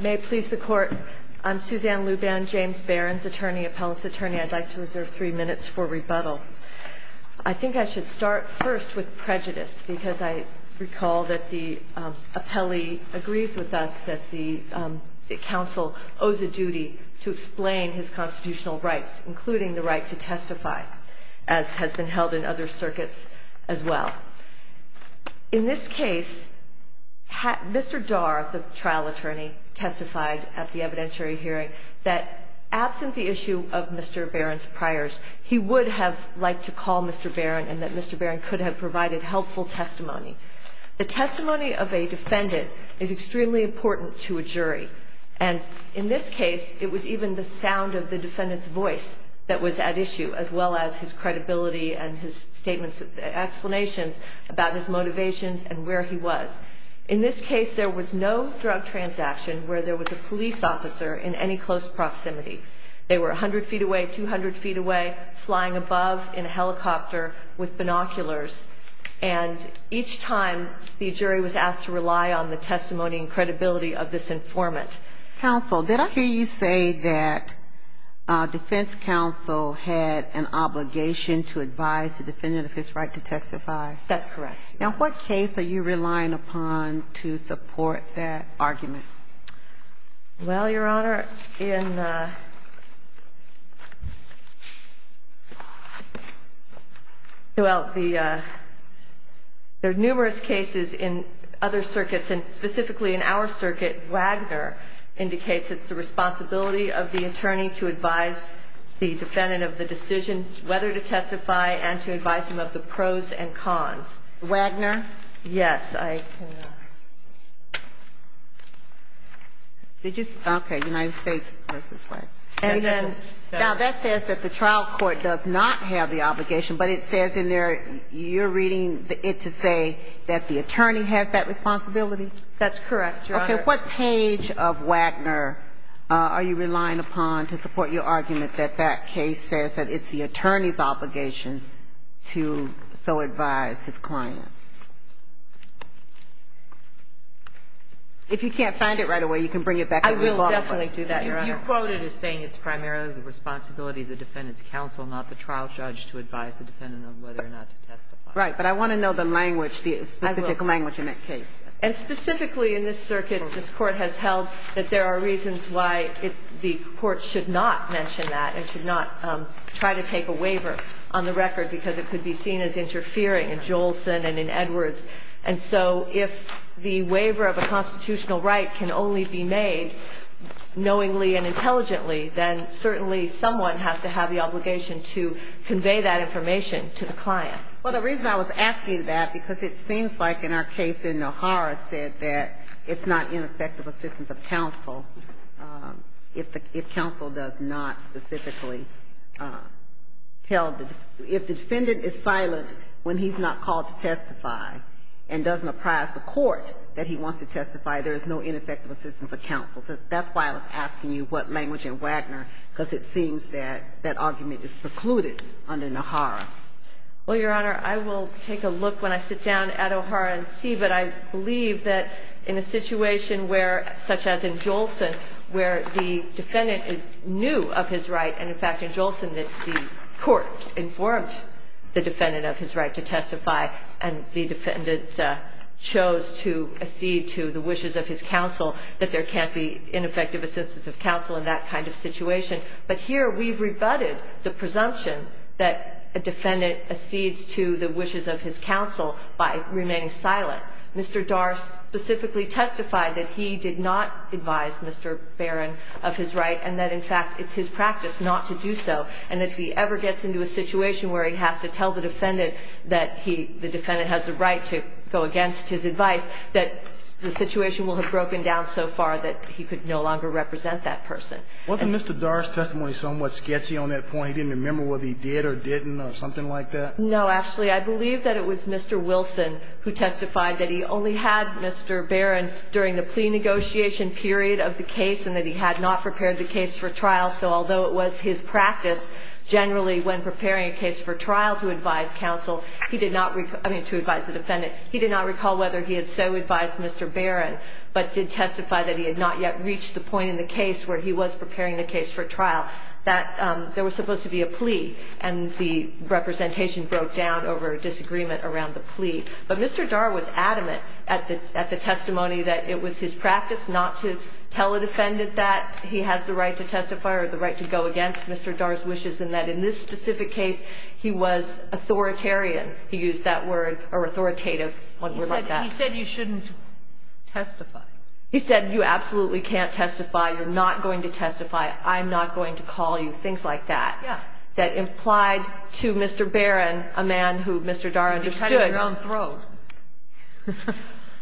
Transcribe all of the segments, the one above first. May it please the Court, I'm Suzanne Luban, James Barron's attorney, appellate's attorney. I'd like to reserve three minutes for rebuttal. I think I should start first with prejudice, because I recall that the appellee agrees with us that the counsel owes a duty to explain his constitutional rights, including the right to testify, as has been held in other circuits as well. In this case, Mr. Darr, the trial attorney, testified at the evidentiary hearing that, absent the issue of Mr. Barron's priors, he would have liked to call Mr. Barron and that Mr. Barron could have provided helpful testimony. The testimony of a defendant is extremely important to a jury, and in this case, it was even the sound of the defendant's voice that was at issue, as well as his credibility and his statements, explanations about his motivations and where he was. In this case, there was no drug transaction where there was a police officer in any close proximity. They were 100 feet away, 200 feet away, flying above in a helicopter with binoculars, and each time the jury was asked to rely on the testimony and credibility of this informant. Counsel, did I hear you say that defense counsel had an obligation to advise the defendant of his right to testify? That's correct. Now, what case are you relying upon to support that argument? Well, Your Honor, there are numerous cases in other circuits, and specifically in our circuit, Wagner indicates it's the responsibility of the attorney to advise the defendant of the decision whether to testify and to advise him of the pros and cons. Wagner? Yes, I can. Did you? Okay. United States v. Wagner. Now, that says that the trial court does not have the obligation, but it says in there, you're reading it to say that the attorney has that responsibility? That's correct, Your Honor. Okay. What page of Wagner are you relying upon to support your argument that that case says that it's the attorney's obligation to so advise his client? If you can't find it right away, you can bring it back to me. I will definitely do that, Your Honor. You quote it as saying it's primarily the responsibility of the defendant's counsel, not the trial judge, to advise the defendant of whether or not to testify. Right. But I want to know the language, the specific language in that case. And specifically in this circuit, this Court has held that there are reasons why the Court should not mention that and should not try to take a waiver on the record, because it could be seen as interfering in Jolson and in Edwards. And so if the waiver of a constitutional right can only be made knowingly and intelligently, then certainly someone has to have the obligation to convey that information to the client. Well, the reason I was asking that, because it seems like in our case in O'Hara said that it's not ineffective assistance of counsel if counsel does not specifically tell the – if the defendant is silent when he's not called to testify and doesn't apprise the court that he wants to testify, there is no ineffective assistance of counsel. That's why I was asking you what language in Wagner, because it seems that that argument is precluded under Nahara. Well, Your Honor, I will take a look when I sit down at O'Hara and see. But I believe that in a situation where – such as in Jolson, where the defendant is new of his right, and, in fact, in Jolson, that the court informed the defendant of his right to testify, and the defendant chose to accede to the wishes of his counsel, that there can't be ineffective assistance of counsel in that kind of situation. But here we've rebutted the presumption that a defendant accedes to the wishes of his counsel by remaining silent. Mr. Darst specifically testified that he did not advise Mr. Barron of his right, and that, in fact, it's his practice not to do so, and that if he ever gets into a situation where he has to tell the defendant that he – the defendant has the right to go against his advice, that the situation will have broken down so far that he could no longer represent that person. Wasn't Mr. Darst's testimony somewhat sketchy on that point? He didn't remember whether he did or didn't or something like that? No, actually. I believe that it was Mr. Wilson who testified that he only had Mr. Barron during the plea negotiation period of the case and that he had not prepared the case for trial. So although it was his practice generally when preparing a case for trial to advise counsel, he did not – I mean, to advise the defendant. He did not recall whether he had so advised Mr. Barron but did testify that he had not yet reached the point in the case where he was preparing the case for trial, that there was supposed to be a plea and the representation broke down over a disagreement around the plea. But Mr. Darst was adamant at the testimony that it was his practice not to tell a defendant that he has the right to testify or the right to go against Mr. Darst's wishes and that in this specific case he was authoritarian. He used that word, or authoritative, one word like that. He said you shouldn't testify. He said you absolutely can't testify, you're not going to testify, I'm not going to call you, things like that. Yes. That implied to Mr. Barron, a man who Mr. Darst understood. You cut him your own throat.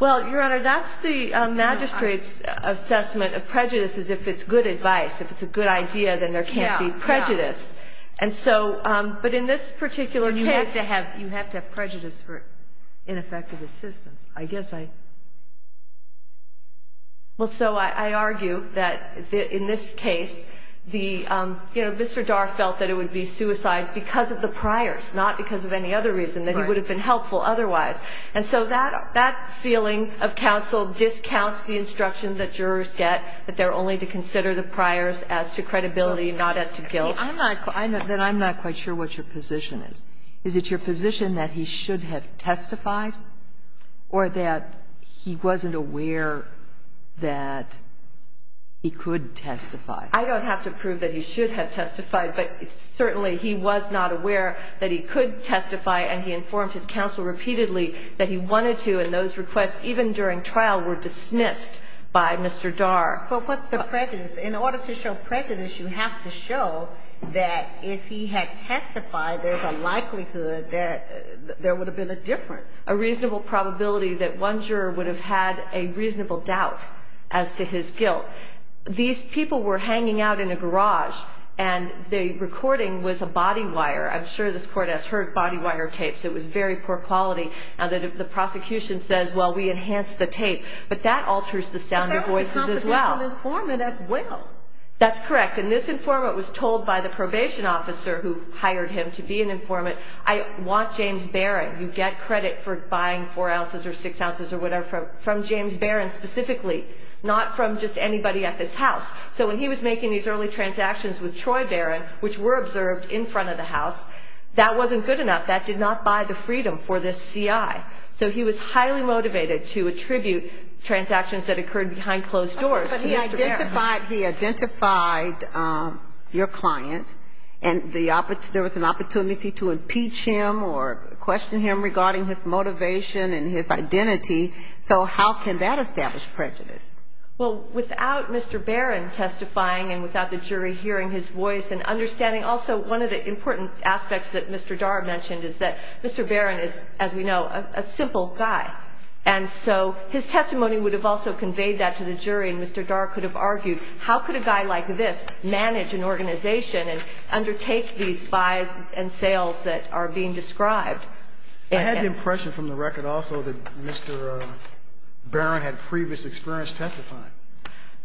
Well, Your Honor, that's the magistrate's assessment of prejudice is if it's good advice. If it's a good idea, then there can't be prejudice. And so – but in this particular case – You have to have prejudice for ineffective assistance. I guess I – Well, so I argue that in this case the – you know, Mr. Darst felt that it would be suicide because of the priors, not because of any other reason, that he would have been helpful otherwise. And so that feeling of counsel discounts the instruction that jurors get, that they're only to consider the priors as to credibility, not as to guilt. See, I'm not – then I'm not quite sure what your position is. Is it your position that he should have testified or that he wasn't aware that he could testify? I don't have to prove that he should have testified, but certainly he was not aware that he could testify, and he informed his counsel repeatedly that he wanted to. And those requests, even during trial, were dismissed by Mr. Darst. But what's the prejudice? In order to show prejudice, you have to show that if he had testified, there's a likelihood that there would have been a difference. A reasonable probability that one juror would have had a reasonable doubt as to his guilt. These people were hanging out in a garage, and the recording was a body wire. I'm sure this Court has heard body wire tapes. It was very poor quality. Now, the prosecution says, well, we enhanced the tape. But that alters the sound of voices as well. But that was a confidential informant as well. That's correct. And this informant was told by the probation officer who hired him to be an informant, I want James Barron. You get credit for buying 4 ounces or 6 ounces or whatever from James Barron specifically, not from just anybody at this house. So when he was making these early transactions with Troy Barron, which were observed in front of the house, that wasn't good enough. That did not buy the freedom for this CI. So he was highly motivated to attribute transactions that occurred behind closed doors. But he identified your client, and there was an opportunity to impeach him or question him regarding his motivation and his identity. So how can that establish prejudice? Well, without Mr. Barron testifying and without the jury hearing his voice and understanding also one of the important aspects that Mr. Dar mentioned is that Mr. Barron is, as we know, a simple guy. And so his testimony would have also conveyed that to the jury, and Mr. Dar could have argued how could a guy like this manage an organization and undertake these buys and sales that are being described. I had the impression from the record also that Mr. Barron had previous experience testifying.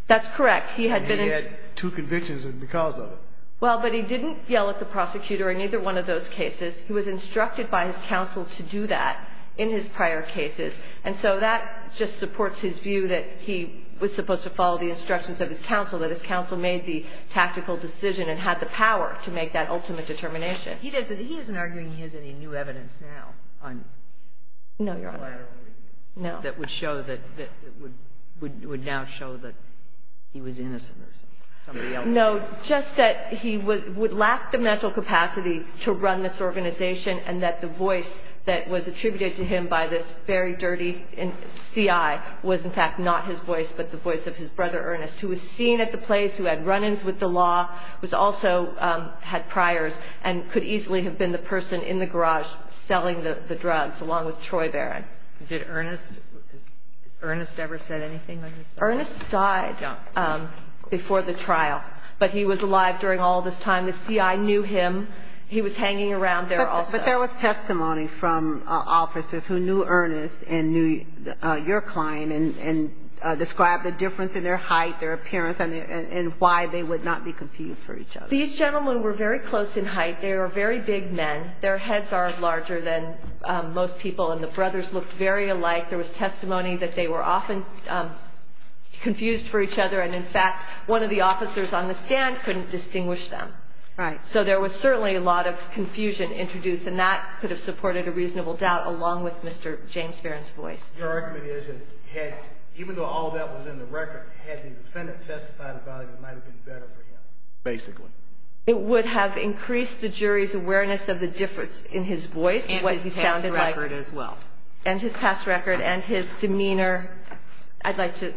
That's correct. He had been in ---- He had two convictions because of it. Well, but he didn't yell at the prosecutor in either one of those cases. He was instructed by his counsel to do that in his prior cases. And so that just supports his view that he was supposed to follow the instructions of his counsel, that his counsel made the tactical decision and had the power to make that ultimate determination. He doesn't, he isn't arguing he has any new evidence now. No, Your Honor. No. That would show that, would now show that he was innocent or somebody else. No, just that he would lack the mental capacity to run this organization and that the voice that was attributed to him by this very dirty C.I. was, in fact, not his voice but the voice of his brother, Ernest, who was seen at the place, who had run-ins with the law, who also had priors and could easily have been the person in the garage selling the drugs along with Troy Barron. Did Ernest, has Ernest ever said anything like this? Ernest died before the trial. But he was alive during all this time. The C.I. knew him. He was hanging around there also. But there was testimony from officers who knew Ernest and knew your client and described the difference in their height, their appearance, and why they would not be confused for each other. These gentlemen were very close in height. They were very big men. Their heads are larger than most people, and the brothers looked very alike. There was testimony that they were often confused for each other, and, in fact, one of the officers on the stand couldn't distinguish them. Right. So there was certainly a lot of confusion introduced, and that could have supported a reasonable doubt along with Mr. James Barron's voice. Your argument is that even though all that was in the record, had the defendant testified about it, it might have been better for him. Basically. It would have increased the jury's awareness of the difference in his voice and what he sounded like. And his past record as well. And his past record and his demeanor. I'd like to.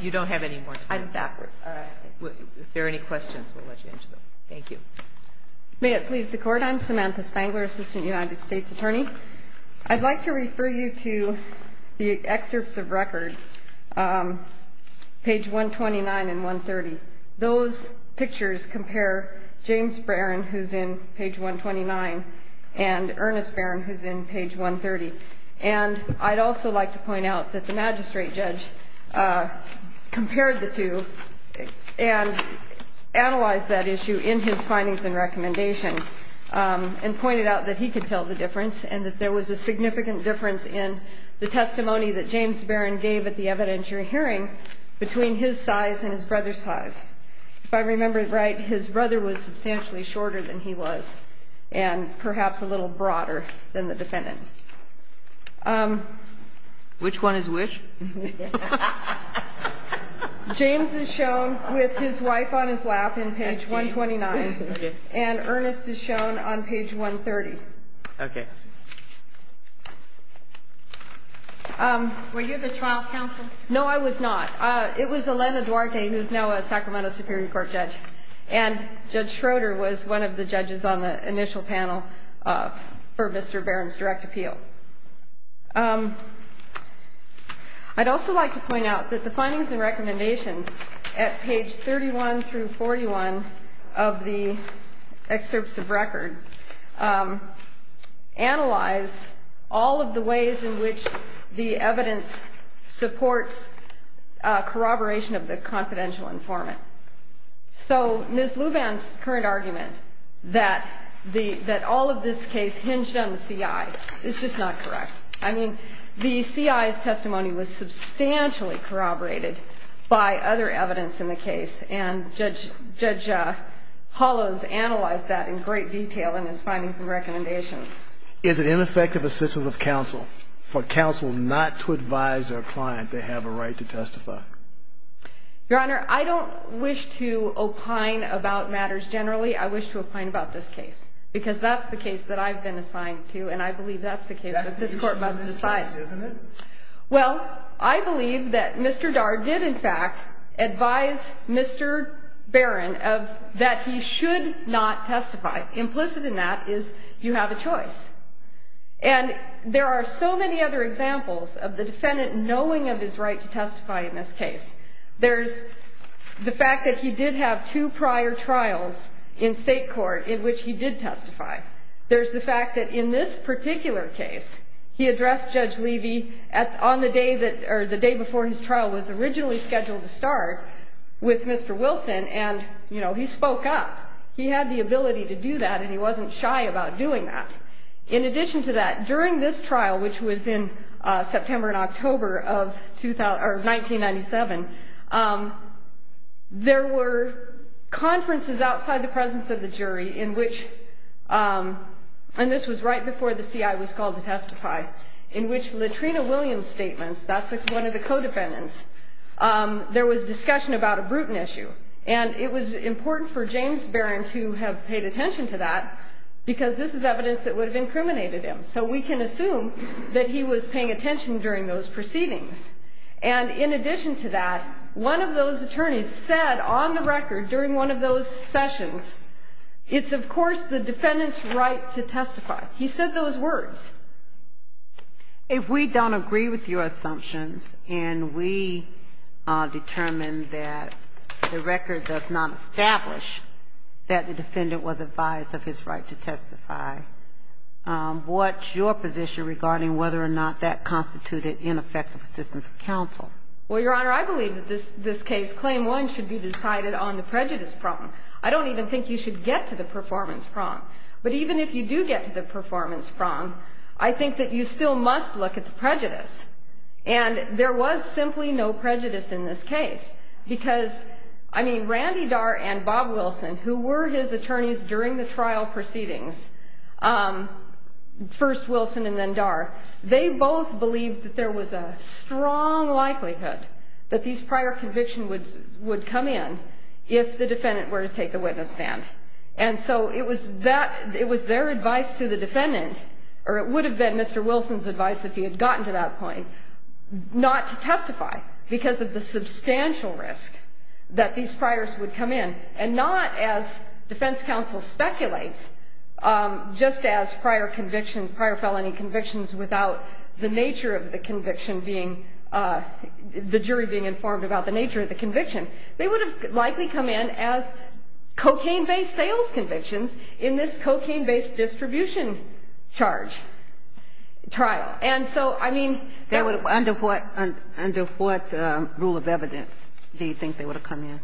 You don't have any more time. I'm backwards. All right. If there are any questions, we'll let you answer them. Thank you. May it please the Court. I'm Samantha Spangler, Assistant United States Attorney. I'd like to refer you to the excerpts of record, page 129 and 130. Those pictures compare James Barron, who's in page 129, and Ernest Barron, who's in page 130. And I'd also like to point out that the magistrate judge compared the two and analyzed that issue in his findings and recommendation and pointed out that he could tell the difference and that there was a significant difference in the testimony that James Barron gave at the evidentiary hearing between his size and his brother's size. If I remember right, his brother was substantially shorter than he was and perhaps a little broader than the defendant. Which one is which? James is shown with his wife on his lap in page 129. And Ernest is shown on page 130. Okay. Were you the trial counsel? No, I was not. It was Elena Duarte, who is now a Sacramento Superior Court judge. And Judge Schroeder was one of the judges on the initial panel for Mr. Barron's direct appeal. I'd also like to point out that the findings and recommendations at page 31 through 41 of the excerpts of record analyze all of the ways in which the evidence supports corroboration of the confidential informant. So Ms. Luban's current argument that all of this case hinged on the CI is just not correct. I mean, the CI's testimony was substantially corroborated by other evidence in the case. And Judge Hollows analyzed that in great detail in his findings and recommendations. Is it ineffective assistance of counsel for counsel not to advise their client they have a right to testify? Your Honor, I don't wish to opine about matters generally. I wish to opine about this case because that's the case that I've been assigned to and I believe that's the case that this Court must decide. Well, I believe that Mr. Dar did, in fact, advise Mr. Barron that he should not testify. Implicit in that is you have a choice. And there are so many other examples of the defendant knowing of his right to testify in this case. There's the fact that he did have two prior trials in state court in which he did testify. There's the fact that in this particular case, he addressed Judge Levy on the day that or the day before his trial was originally scheduled to start with Mr. Wilson and, you know, he spoke up. He had the ability to do that and he wasn't shy about doing that. In addition to that, during this trial, which was in September and October of 1997, there were conferences outside the presence of the jury in which, and this was right before the CI was called to testify, in which Latrina Williams' statements, that's one of the co-defendants, there was discussion about a Bruton issue. And it was important for James Barron to have paid attention to that because this is evidence that would have incriminated him. So we can assume that he was paying attention during those proceedings. And in addition to that, one of those attorneys said on the record during one of those sessions, it's of course the defendant's right to testify. He said those words. If we don't agree with your assumptions and we determine that the record does not establish that the defendant was advised of his right to testify, what's your position regarding whether or not that constituted ineffective assistance of counsel? Well, Your Honor, I believe that this case, Claim 1, should be decided on the prejudice prong. I don't even think you should get to the performance prong. But even if you do get to the performance prong, I think that you still must look at the prejudice. And there was simply no prejudice in this case because, I mean, Randy Darr and Bob Wilson, who were his attorneys during the trial proceedings, first Wilson and then Darr, they both believed that there was a strong likelihood that these prior convictions would come in if the defendant were to take the witness stand. And so it was their advice to the defendant, or it would have been Mr. Wilson's advice if he had gotten to that point, not to testify because of the substantial risk that these priors would come in and not, as defense counsel speculates, just as prior convictions, prior felony convictions, without the nature of the conviction being, the jury being informed about the nature of the conviction. They would have likely come in as cocaine-based sales convictions in this cocaine-based distribution charge trial. And so, I mean, there would have been. Under what rule of evidence do you think they would have come in?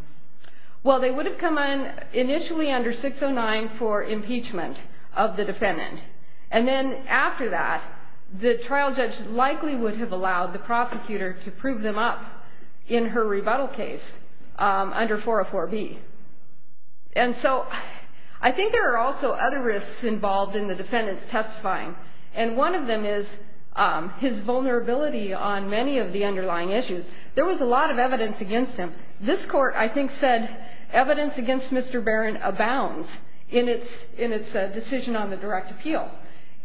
Well, they would have come in initially under 609 for impeachment of the defendant. And then after that, the trial judge likely would have allowed the prosecutor to prove them up in her rebuttal case under 404B. And so I think there are also other risks involved in the defendant's testifying, and one of them is his vulnerability on many of the underlying issues. There was a lot of evidence against him. This court, I think, said evidence against Mr. Barron abounds in its decision on the direct appeal.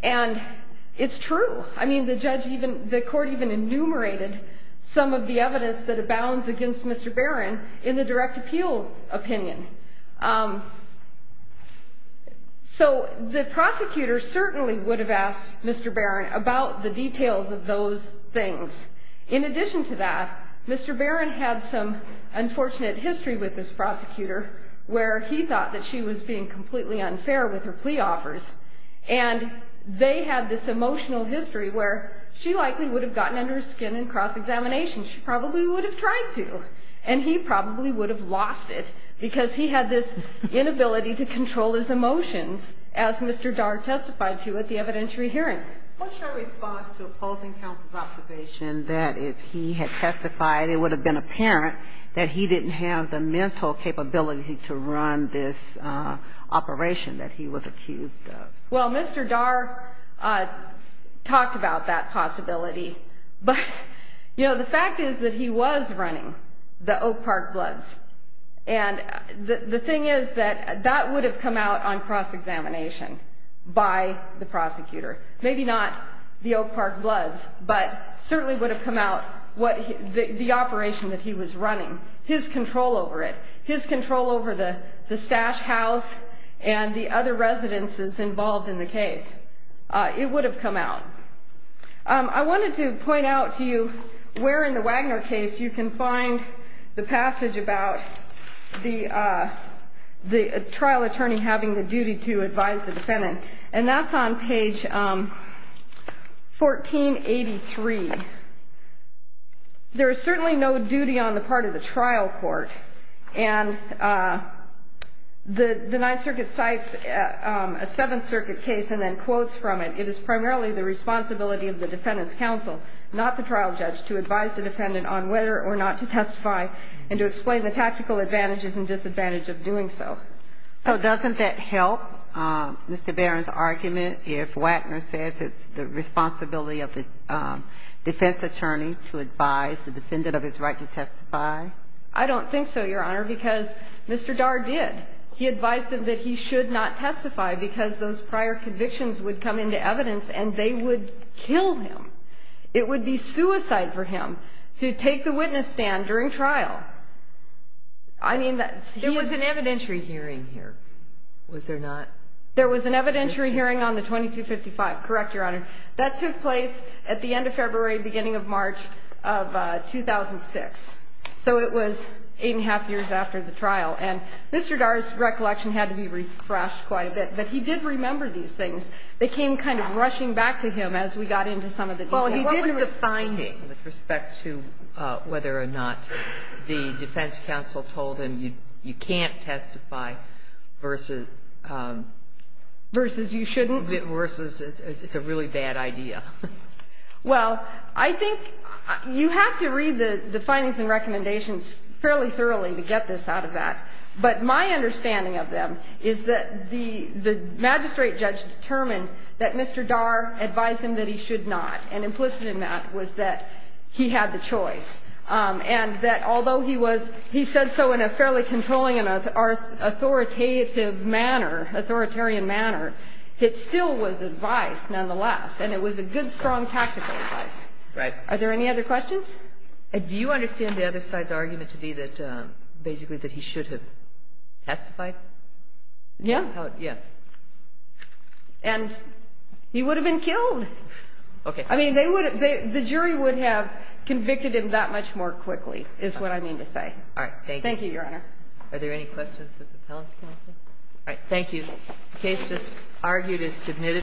And it's true. I mean, the court even enumerated some of the evidence that abounds against Mr. Barron in the direct appeal opinion. So the prosecutor certainly would have asked Mr. Barron about the details of those things. In addition to that, Mr. Barron had some unfortunate history with this prosecutor where he thought that she was being completely unfair with her plea offers. And they had this emotional history where she likely would have gotten under her skin in cross-examination. She probably would have tried to, and he probably would have lost it because he had this inability to control his emotions, as Mr. Darg testified to at the evidentiary hearing. What's your response to opposing counsel's observation that if he had testified, it would have been apparent that he didn't have the mental capability to run this operation that he was accused of? Well, Mr. Darg talked about that possibility. But, you know, the fact is that he was running the Oak Park Bloods. And the thing is that that would have come out on cross-examination by the prosecutor. Maybe not the Oak Park Bloods, but certainly would have come out the operation that he was running, his control over it, his control over the Stash House and the other residences involved in the case. It would have come out. I wanted to point out to you where in the Wagner case you can find the passage about the trial attorney having the duty to advise the defendant. And that's on page 1483. There is certainly no duty on the part of the trial court. And the Ninth Circuit cites a Seventh Circuit case and then quotes from it. It is primarily the responsibility of the defendant's counsel, not the trial judge, to advise the defendant on whether or not to testify and to explain the tactical advantages and disadvantages of doing so. So doesn't that help Mr. Barron's argument if Wagner says it's the responsibility of the defense attorney to advise the defendant of his right to testify? I don't think so, Your Honor, because Mr. Darr did. He advised him that he should not testify because those prior convictions would come into evidence and they would kill him. It would be suicide for him to take the witness stand during trial. There was an evidentiary hearing here, was there not? There was an evidentiary hearing on the 2255. Correct, Your Honor. That took place at the end of February, beginning of March of 2006. So it was eight and a half years after the trial. And Mr. Darr's recollection had to be refreshed quite a bit, but he did remember these things. They came kind of rushing back to him as we got into some of the details. What was the finding with respect to whether or not the defense counsel told him you can't testify versus? Versus you shouldn't? Versus it's a really bad idea. Well, I think you have to read the findings and recommendations fairly thoroughly to get this out of that. But my understanding of them is that the magistrate judge determined that Mr. Darr advised him that he should not, and implicit in that was that he had the choice. And that although he said so in a fairly controlling and authoritative manner, authoritarian manner, it still was advice nonetheless, and it was a good, strong tactical advice. Are there any other questions? Do you understand the other side's argument to be that basically that he should have testified? Yeah. Yeah. And he would have been killed. Okay. I mean, the jury would have convicted him that much more quickly is what I mean to say. All right. Thank you. Thank you, Your Honor. Are there any questions of the appellant's counsel? All right. Thank you. The case just argued is submitted.